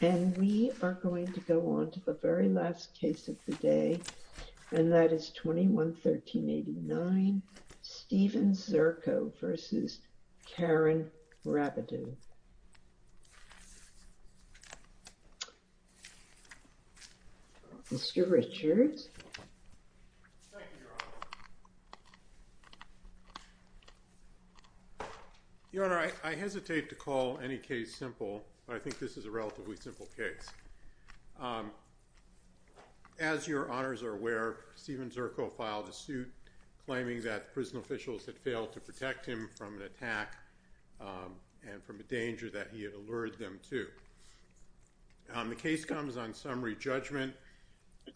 And we are going to go on to the very last case of the day, and that is 21-1389 Stephen Zirko v. Karen Rabideau. Mr. Richards. Thank you, Your Honor. Your Honor, I hesitate to call any case simple, but I think this is a relatively simple case. As Your Honors are aware, Stephen Zirko filed a suit claiming that prison officials had failed to protect him from an attack and from a danger that he had allured them to. The case comes on summary judgment.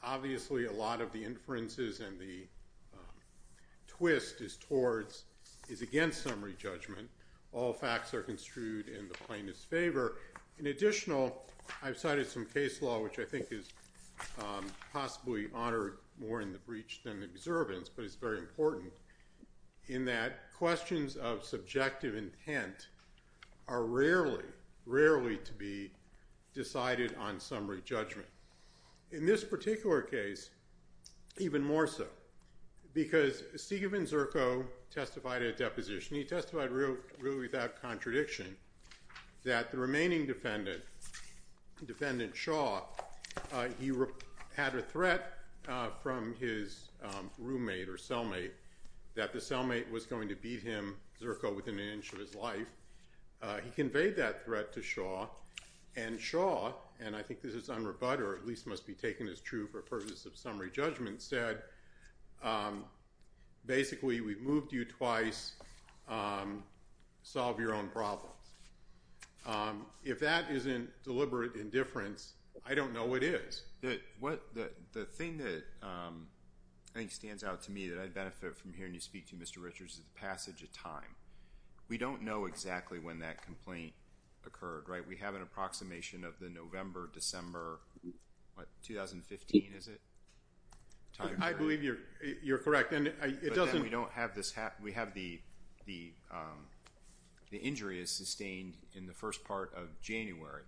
Obviously, a lot of the inferences and the twist is against summary judgment. All facts are construed in the plaintiff's favor. In additional, I've cited some case law, which I think is possibly honored more in the breach than the observance, but it's very important, in that questions of subjective intent are rarely, rarely to be decided on summary judgment. In this particular case, even more so, because Stephen Zirko testified at deposition. He testified really without contradiction that the remaining defendant, defendant Shaw, he had a threat from his roommate or cellmate that the cellmate was going to beat him, Zirko, within an inch of his life. He conveyed that threat to Shaw, and Shaw, and I think this is unrebut or at least must be taken as true for purposes of summary judgment, said, basically, we've moved you twice, solve your own problems. If that isn't deliberate indifference, I don't know what is. The thing that I think stands out to me that I benefit from hearing you speak to, Mr. Richards, is the passage of time. We don't know exactly when that complaint occurred, right? We have an approximation of the November, December, what, 2015, is it? I believe you're correct. We have the injury is sustained in the first part of January,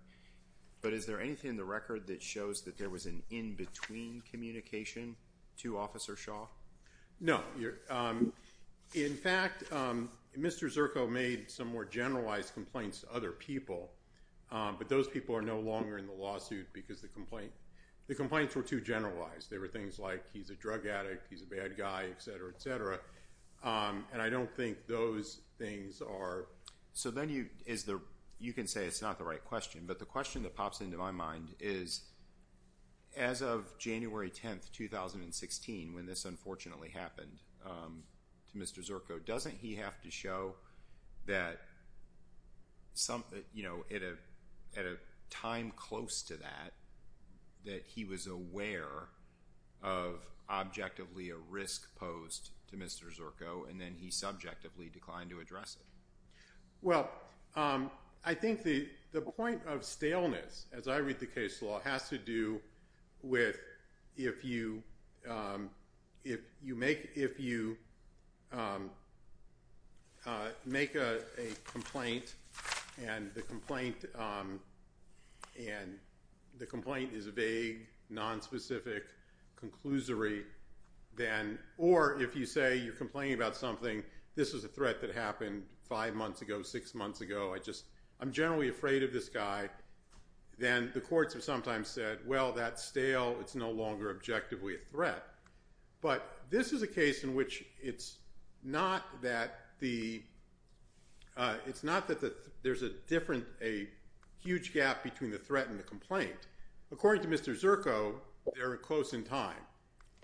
but is there anything in the record that shows that there was an in-between communication to Officer Shaw? No. In fact, Mr. Zirko made some more generalized complaints to other people, but those people are no longer in the lawsuit because the complaint, the complaints were too generalized. There were things like he's a drug addict, he's a bad guy, et cetera, et cetera, and I don't think those things are. So then you, is there, you can say it's not the right question, but the question that pops into my mind is, as of January 10th, 2016, when this unfortunately happened to Mr. Zirko, doesn't he have to show that something, you know, at a time close to that, that he was aware of objectively a risk posed to Mr. Zirko, and then he subjectively declined to address it? Well, I think the point of staleness, as I read the case law, has to do with if you make a complaint, and the complaint is vague, nonspecific, conclusory, then, or if you say you're complaining about something, this was a threat that happened five months ago, six months ago, I just, I'm generally afraid of this guy, then the courts have sometimes said, well, that's stale, it's no longer objectively a threat. But this is a case in which it's not that the, it's not that there's a different, a huge gap between the time.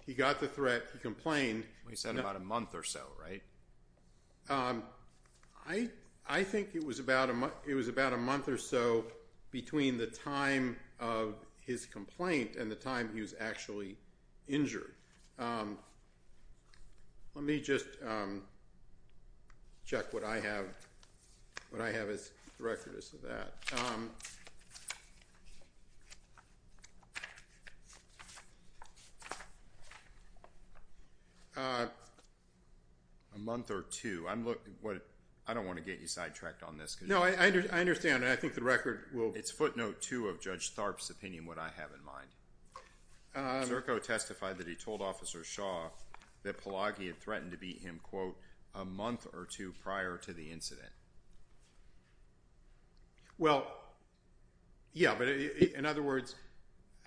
He got the threat, he complained. You said about a month or so, right? I think it was about a month or so between the time of his complaint and the time he was actually convicted. A month or two. I don't want to get you sidetracked on this. No, I understand, and I think the record will. It's footnote two of Judge Tharp's opinion, what I have in mind. Zirko testified that he told Officer Shaw that Pelagi had threatened to beat him, quote, month or two prior to the incident. Well, yeah, but in other words,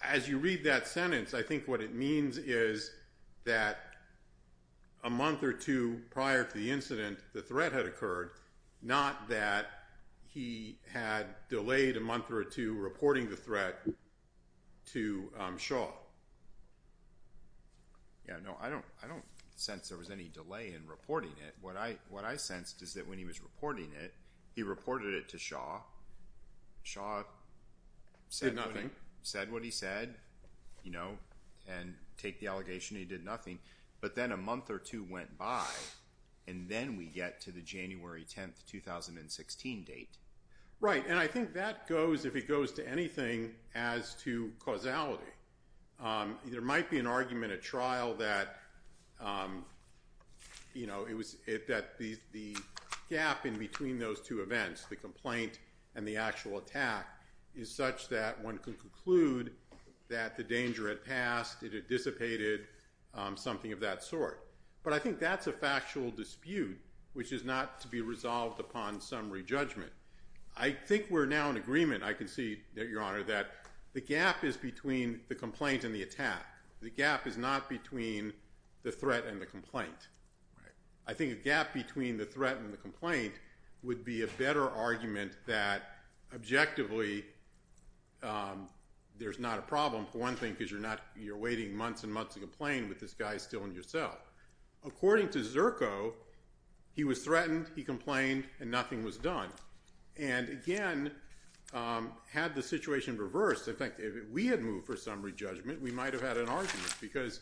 as you read that sentence, I think what it means is that a month or two prior to the incident, the threat had occurred, not that he had delayed a month or two reporting the threat to Shaw. Yeah, no, I don't sense there was any delay in reporting it. What I sensed is that when he was reporting it, he reported it to Shaw, Shaw said nothing, said what he said, you know, and take the allegation he did nothing, but then a month or two went by, and then we get to the January 10th, 2016 date. Right, and I think that goes, if it goes to anything, as to causality. There might be an you know, it was that the gap in between those two events, the complaint and the actual attack, is such that one can conclude that the danger had passed, it had dissipated, something of that sort. But I think that's a factual dispute, which is not to be resolved upon summary judgment. I think we're now in agreement, I can see that, Your Honor, that the gap is between the complaint and the attack. The gap is not between the threat and the complaint. I think a gap between the threat and the complaint would be a better argument that, objectively, there's not a problem. For one thing, because you're not, you're waiting months and months to complain with this guy still in your cell. According to Zerko, he was threatened, he complained, and nothing was done. And again, had the situation reversed, in fact, if we had moved for summary judgment, we might have had an argument, because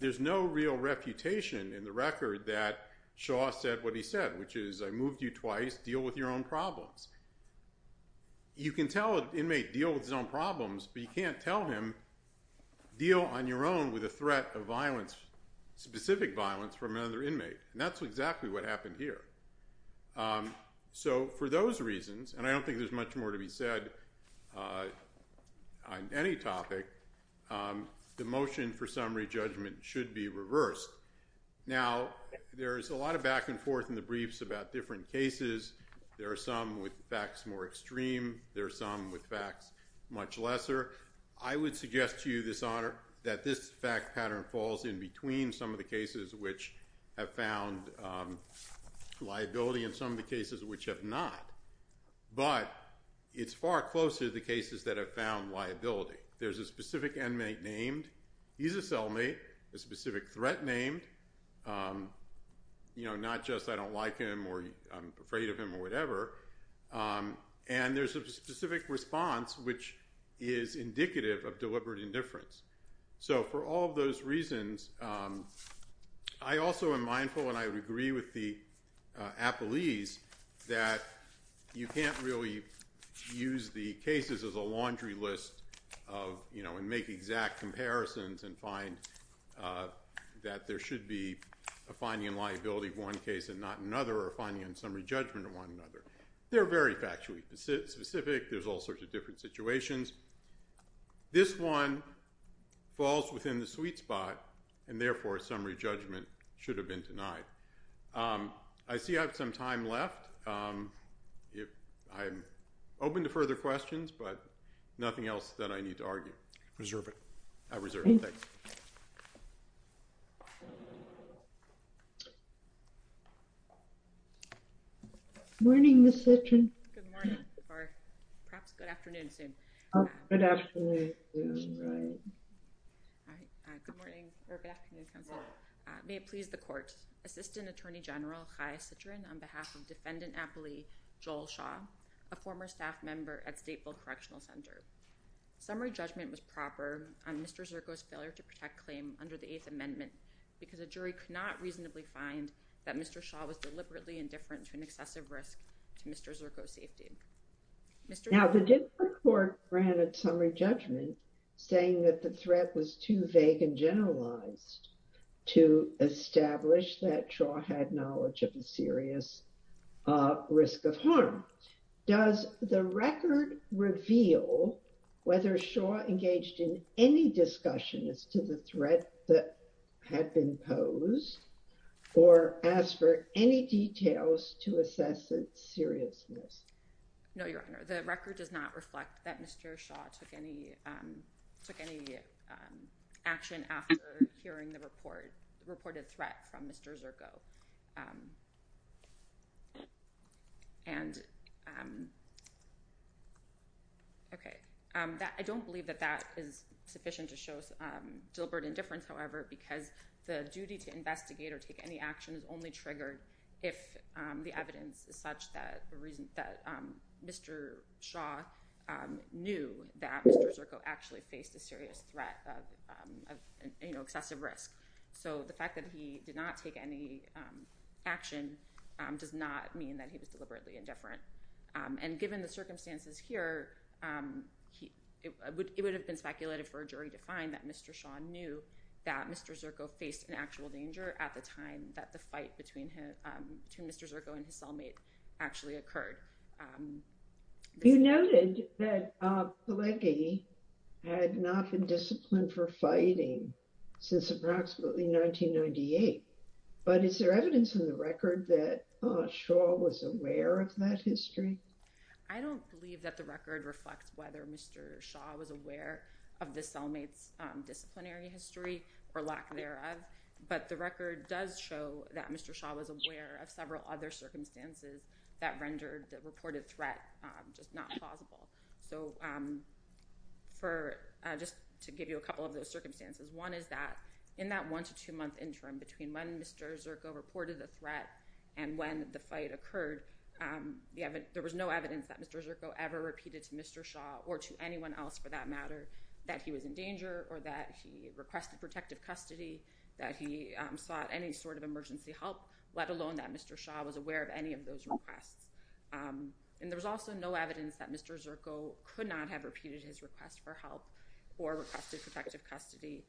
there's no real reputation in the record that Shaw said what he said, which is, I moved you twice, deal with your own problems. You can tell an inmate, deal with his own problems, but you can't tell him, deal on your own with a threat of violence, specific violence from another inmate. And that's exactly what happened here. So for those reasons, and I don't think there's much more to say, on any topic, the motion for summary judgment should be reversed. Now, there's a lot of back and forth in the briefs about different cases. There are some with facts more extreme, there are some with facts much lesser. I would suggest to you, this honor, that this fact pattern falls in between some of the cases which have found liability and some of the cases which have not. But it's far closer to the cases that have found liability. There's a specific inmate named, he's a cellmate, a specific threat named, not just I don't like him, or I'm afraid of him, or whatever. And there's a specific response which is indicative of deliberate indifference. So for all of those reasons, I also am mindful and I would agree with the appellees that you can't really use the cases as a laundry list of, you know, and make exact comparisons and find that there should be a finding in liability of one case and not another, or finding in summary judgment of one another. They're very factually specific, there's all falls within the sweet spot, and therefore summary judgment should have been denied. I see I have some time left. I'm open to further questions, but nothing else that I need to argue. Reserve it. I reserve it, thanks. Morning, Ms. Sitchin. Good morning, or perhaps good afternoon soon. Good afternoon soon, right. All right, good morning, or good afternoon, counsel. May it please the court, Assistant Attorney General Chai Sitchin on behalf of Defendant Appellee Joel Shaw, a former staff member at Stateville Correctional Center. Summary judgment was proper on Mr. Zirko's failure to protect claim under the Eighth Amendment because a jury could not reasonably find that Mr. Shaw was deliberately indifferent to an excessive risk to Mr. Zirko's safety. Mr. Zirko. Did the court grant a summary judgment saying that the threat was too vague and generalized to establish that Shaw had knowledge of a serious risk of harm? Does the record reveal whether Shaw engaged in any discussion as to the threat that had been posed, or ask for any details to assess its seriousness? No, Your Honor. The record does not reflect that Mr. Shaw took any action after hearing the reported threat from Mr. Zirko. And okay, I don't believe that that is sufficient to show deliberate indifference, however, because the duty to investigate or take any action is only triggered if the evidence is such that the reason that Mr. Shaw knew that Mr. Zirko actually faced a serious threat of excessive risk. So the fact that he did not take any action does not mean that he was deliberately indifferent. And given the circumstances here, it would have been speculated for a jury to find that Mr. Shaw knew that Mr. Zirko faced an actual danger at the time that the fight between Mr. Zirko and his cellmate actually occurred. You noted that Pelleggi had not been disciplined for fighting since approximately 1998, but is there evidence in the record that Shaw was aware of that history? I don't believe that the record reflects whether Mr. Shaw was aware of the cellmate's disciplinary history or lack thereof, but the record does show that Mr. Shaw was aware of several other circumstances that rendered the reported threat just not plausible. So just to give you a couple of those circumstances, one is that in that one to two month interim between when Mr. Zirko reported the threat and when the fight occurred, there was no evidence that Mr. Zirko ever repeated to Mr. that he was in danger or that he requested protective custody, that he sought any sort of emergency help, let alone that Mr. Shaw was aware of any of those requests. And there was also no evidence that Mr. Zirko could not have repeated his request for help or requested protective custody.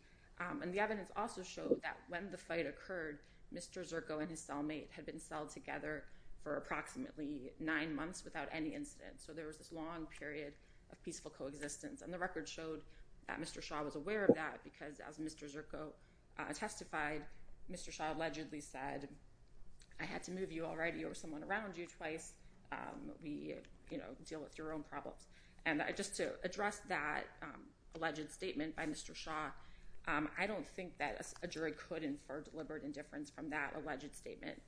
And the evidence also showed that when the fight occurred, Mr. Zirko and his cellmate had been celled together for approximately nine months without any incidents. So there was this long period of peaceful coexistence. And the record showed that Mr. Shaw was aware of that because as Mr. Zirko testified, Mr. Shaw allegedly said, I had to move you already or someone around you twice. We, you know, deal with your own problems. And just to address that alleged statement by Mr. Shaw, I don't think that a jury could infer deliberate indifference from that alleged statement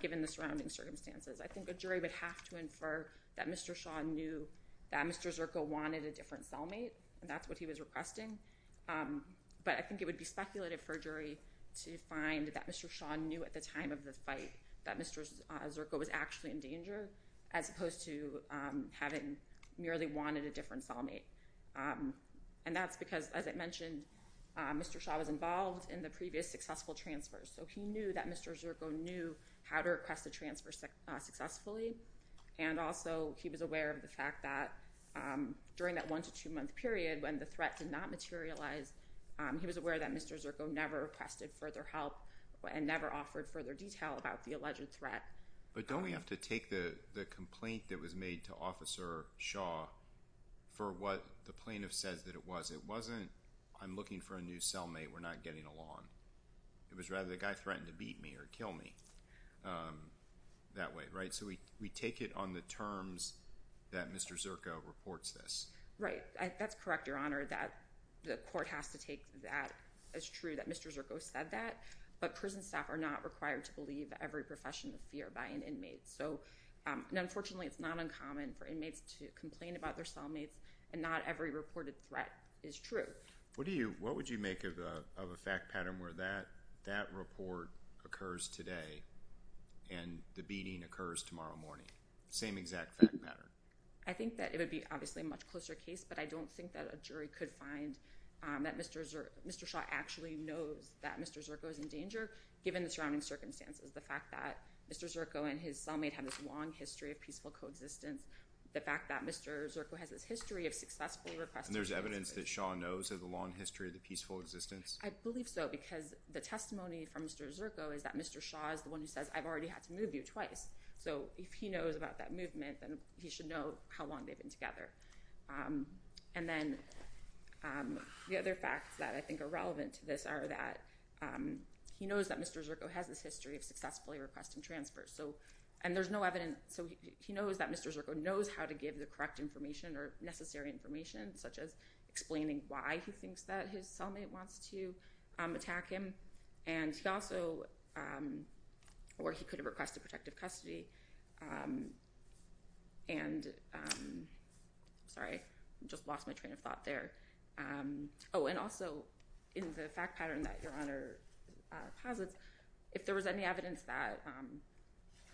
given the surrounding circumstances. I think a jury would have to infer that Mr. Shaw knew that Mr. Zirko wanted a different cellmate and that's what he was requesting. But I think it would be speculative for a jury to find that Mr. Shaw knew at the time of the fight that Mr. Zirko was actually in danger as opposed to having merely wanted a different cellmate. And that's because, as I mentioned, Mr. Shaw was involved in the previous successful transfers. So he knew that Mr. Zirko knew how to request a transfer successfully. And also he was aware of the fact that during that one to two month period when the threat did not materialize, he was aware that Mr. Zirko never requested further help and never offered further detail about the alleged threat. But don't we have to take the complaint that was made to Officer Shaw for what the plaintiff says that it was. It wasn't, I'm looking for a new cellmate, we're not getting along. It was rather the guy threatened to beat me or kill me that way, right? So we take it on the terms that Mr. Zirko reports this. Right. That's correct, Your Honor, that the court has to take that as true that Mr. Zirko said that. But prison staff are not required to believe every profession of fear by an inmate. So, unfortunately, it's not uncommon for inmates to complain about their cellmates and not every officer of fear. I think that it would be obviously a much closer case, but I don't think that a jury could find that Mr. Shaw actually knows that Mr. Zirko is in danger given the surrounding circumstances. The fact that Mr. Zirko and his cellmate have this long history of peaceful coexistence, the fact that Mr. Zirko has this history of successfully requesting... There's evidence that Shaw knows of the long history of the peaceful existence? I believe so, because the testimony from Mr. Zirko is that Mr. Shaw is the one who says, I've already had to move you twice. So if he knows about that movement, then he should know how long they've been together. And then the other facts that I think are relevant to this are that he knows that Mr. Zirko has this history of successfully requesting transfers. And there's no evidence, so he knows that Mr. Zirko knows how to give the correct information or necessary information, such as explaining why he thinks that his cellmate wants to attack him. And he also... Or he could have requested protective custody. And... Sorry, I just lost my train of thought there. Oh, and also in the fact pattern that Your Honor posits, if there was any evidence that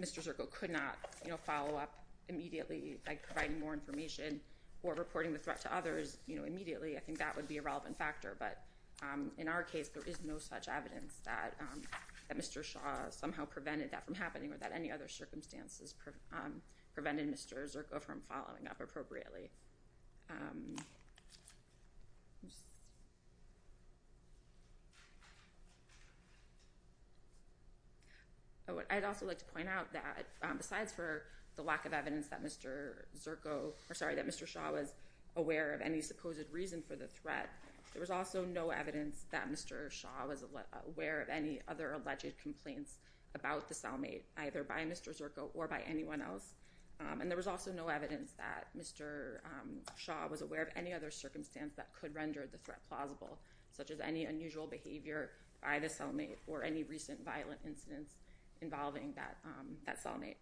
Mr. Zirko could not follow up immediately by providing more information or reporting the threat to others immediately, I think that would be a relevant factor. But in our case, there is no such evidence that Mr. Shaw somehow prevented that from happening or that any other circumstances prevented Mr. Zirko from following up appropriately. I'd also like to point out that besides for the lack of evidence that Mr. Zirko... Or sorry, that Mr. Shaw was aware of any supposed reason for the threat, there was also no evidence that Mr. Shaw was aware of any other alleged complaints about the cellmate, either by Mr. Zirko or by Mr. Shaw was aware of any other circumstance that could render the threat plausible, such as any unusual behavior by the cellmate or any recent violent incidents involving that cellmate.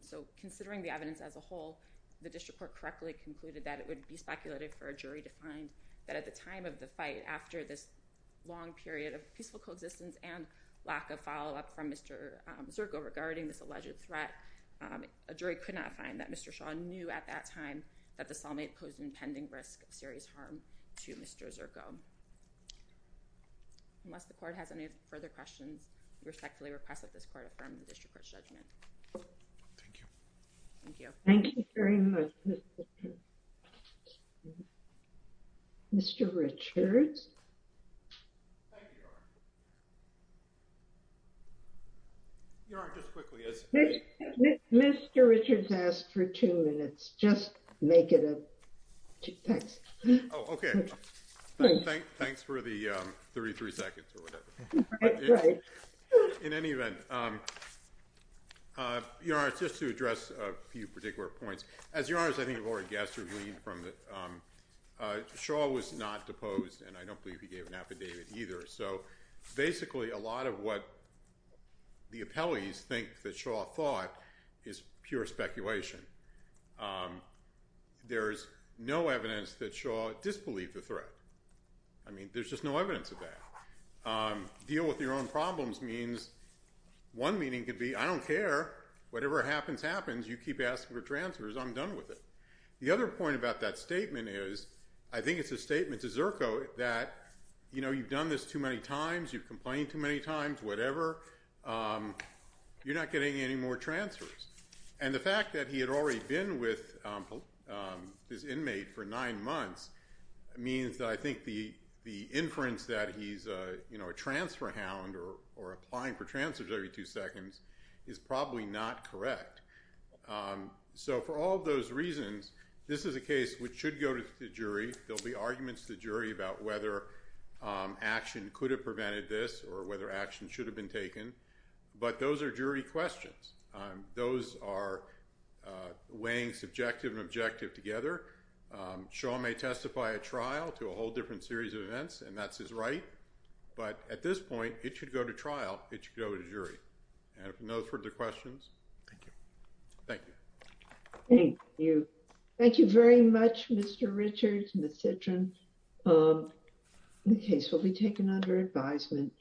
So considering the evidence as a whole, the district court correctly concluded that it would be speculative for a jury to find that at the time of the fight, after this long period of peaceful coexistence and lack of follow-up from Mr. Zirko regarding this alleged threat, a jury could not find that Mr. Shaw knew at that time that the cellmate posed an impending risk of serious harm to Mr. Zirko. Unless the court has any further questions, we respectfully request that this court affirm the district court's judgment. Thank you. Thank you. Thank you very much. Mr. Richards. Thank you, Your Honor. Your Honor, just quickly, as— Mr. Richards asked for two minutes. Just make it a—thanks. Oh, okay. Thanks for the 33 seconds or whatever. In any event, Your Honor, just to address a few particular points, as Your Honor has already guessed or gleaned from the—Shaw was not deposed, and I don't believe he gave an affidavit either. So basically, a lot of what the appellees think that Shaw thought is pure speculation. There's no evidence that Shaw disbelieved the threat. I mean, there's just no evidence of that. Deal with your own problems means—one meaning could be, I don't care. Whatever happens happens. You keep asking for transfers. I'm done with it. The other point about that statement is, I think it's a statement to Zirko that, you know, you've done this too many times, you've complained too many times, whatever. You're not getting any more transfers. And the fact that he had already been with his inmate for nine months means that I think the inference that he's, you know, a transfer hound or applying for transfers every two seconds is probably not correct. So for all those reasons, this is a case which should go to the jury. There'll be arguments to the jury about whether action could have prevented this or whether action should have been taken. But those are jury questions. Those are weighing subjective and objective together. Shaw may testify at trial to a whole different series of events, and that's his right. But at this point, it should go to trial. It should go to jury. And if no further questions. Thank you. Thank you. Thank you. Thank you very much, Mr. Richards, Ms. Citron. The case will be taken under advisement.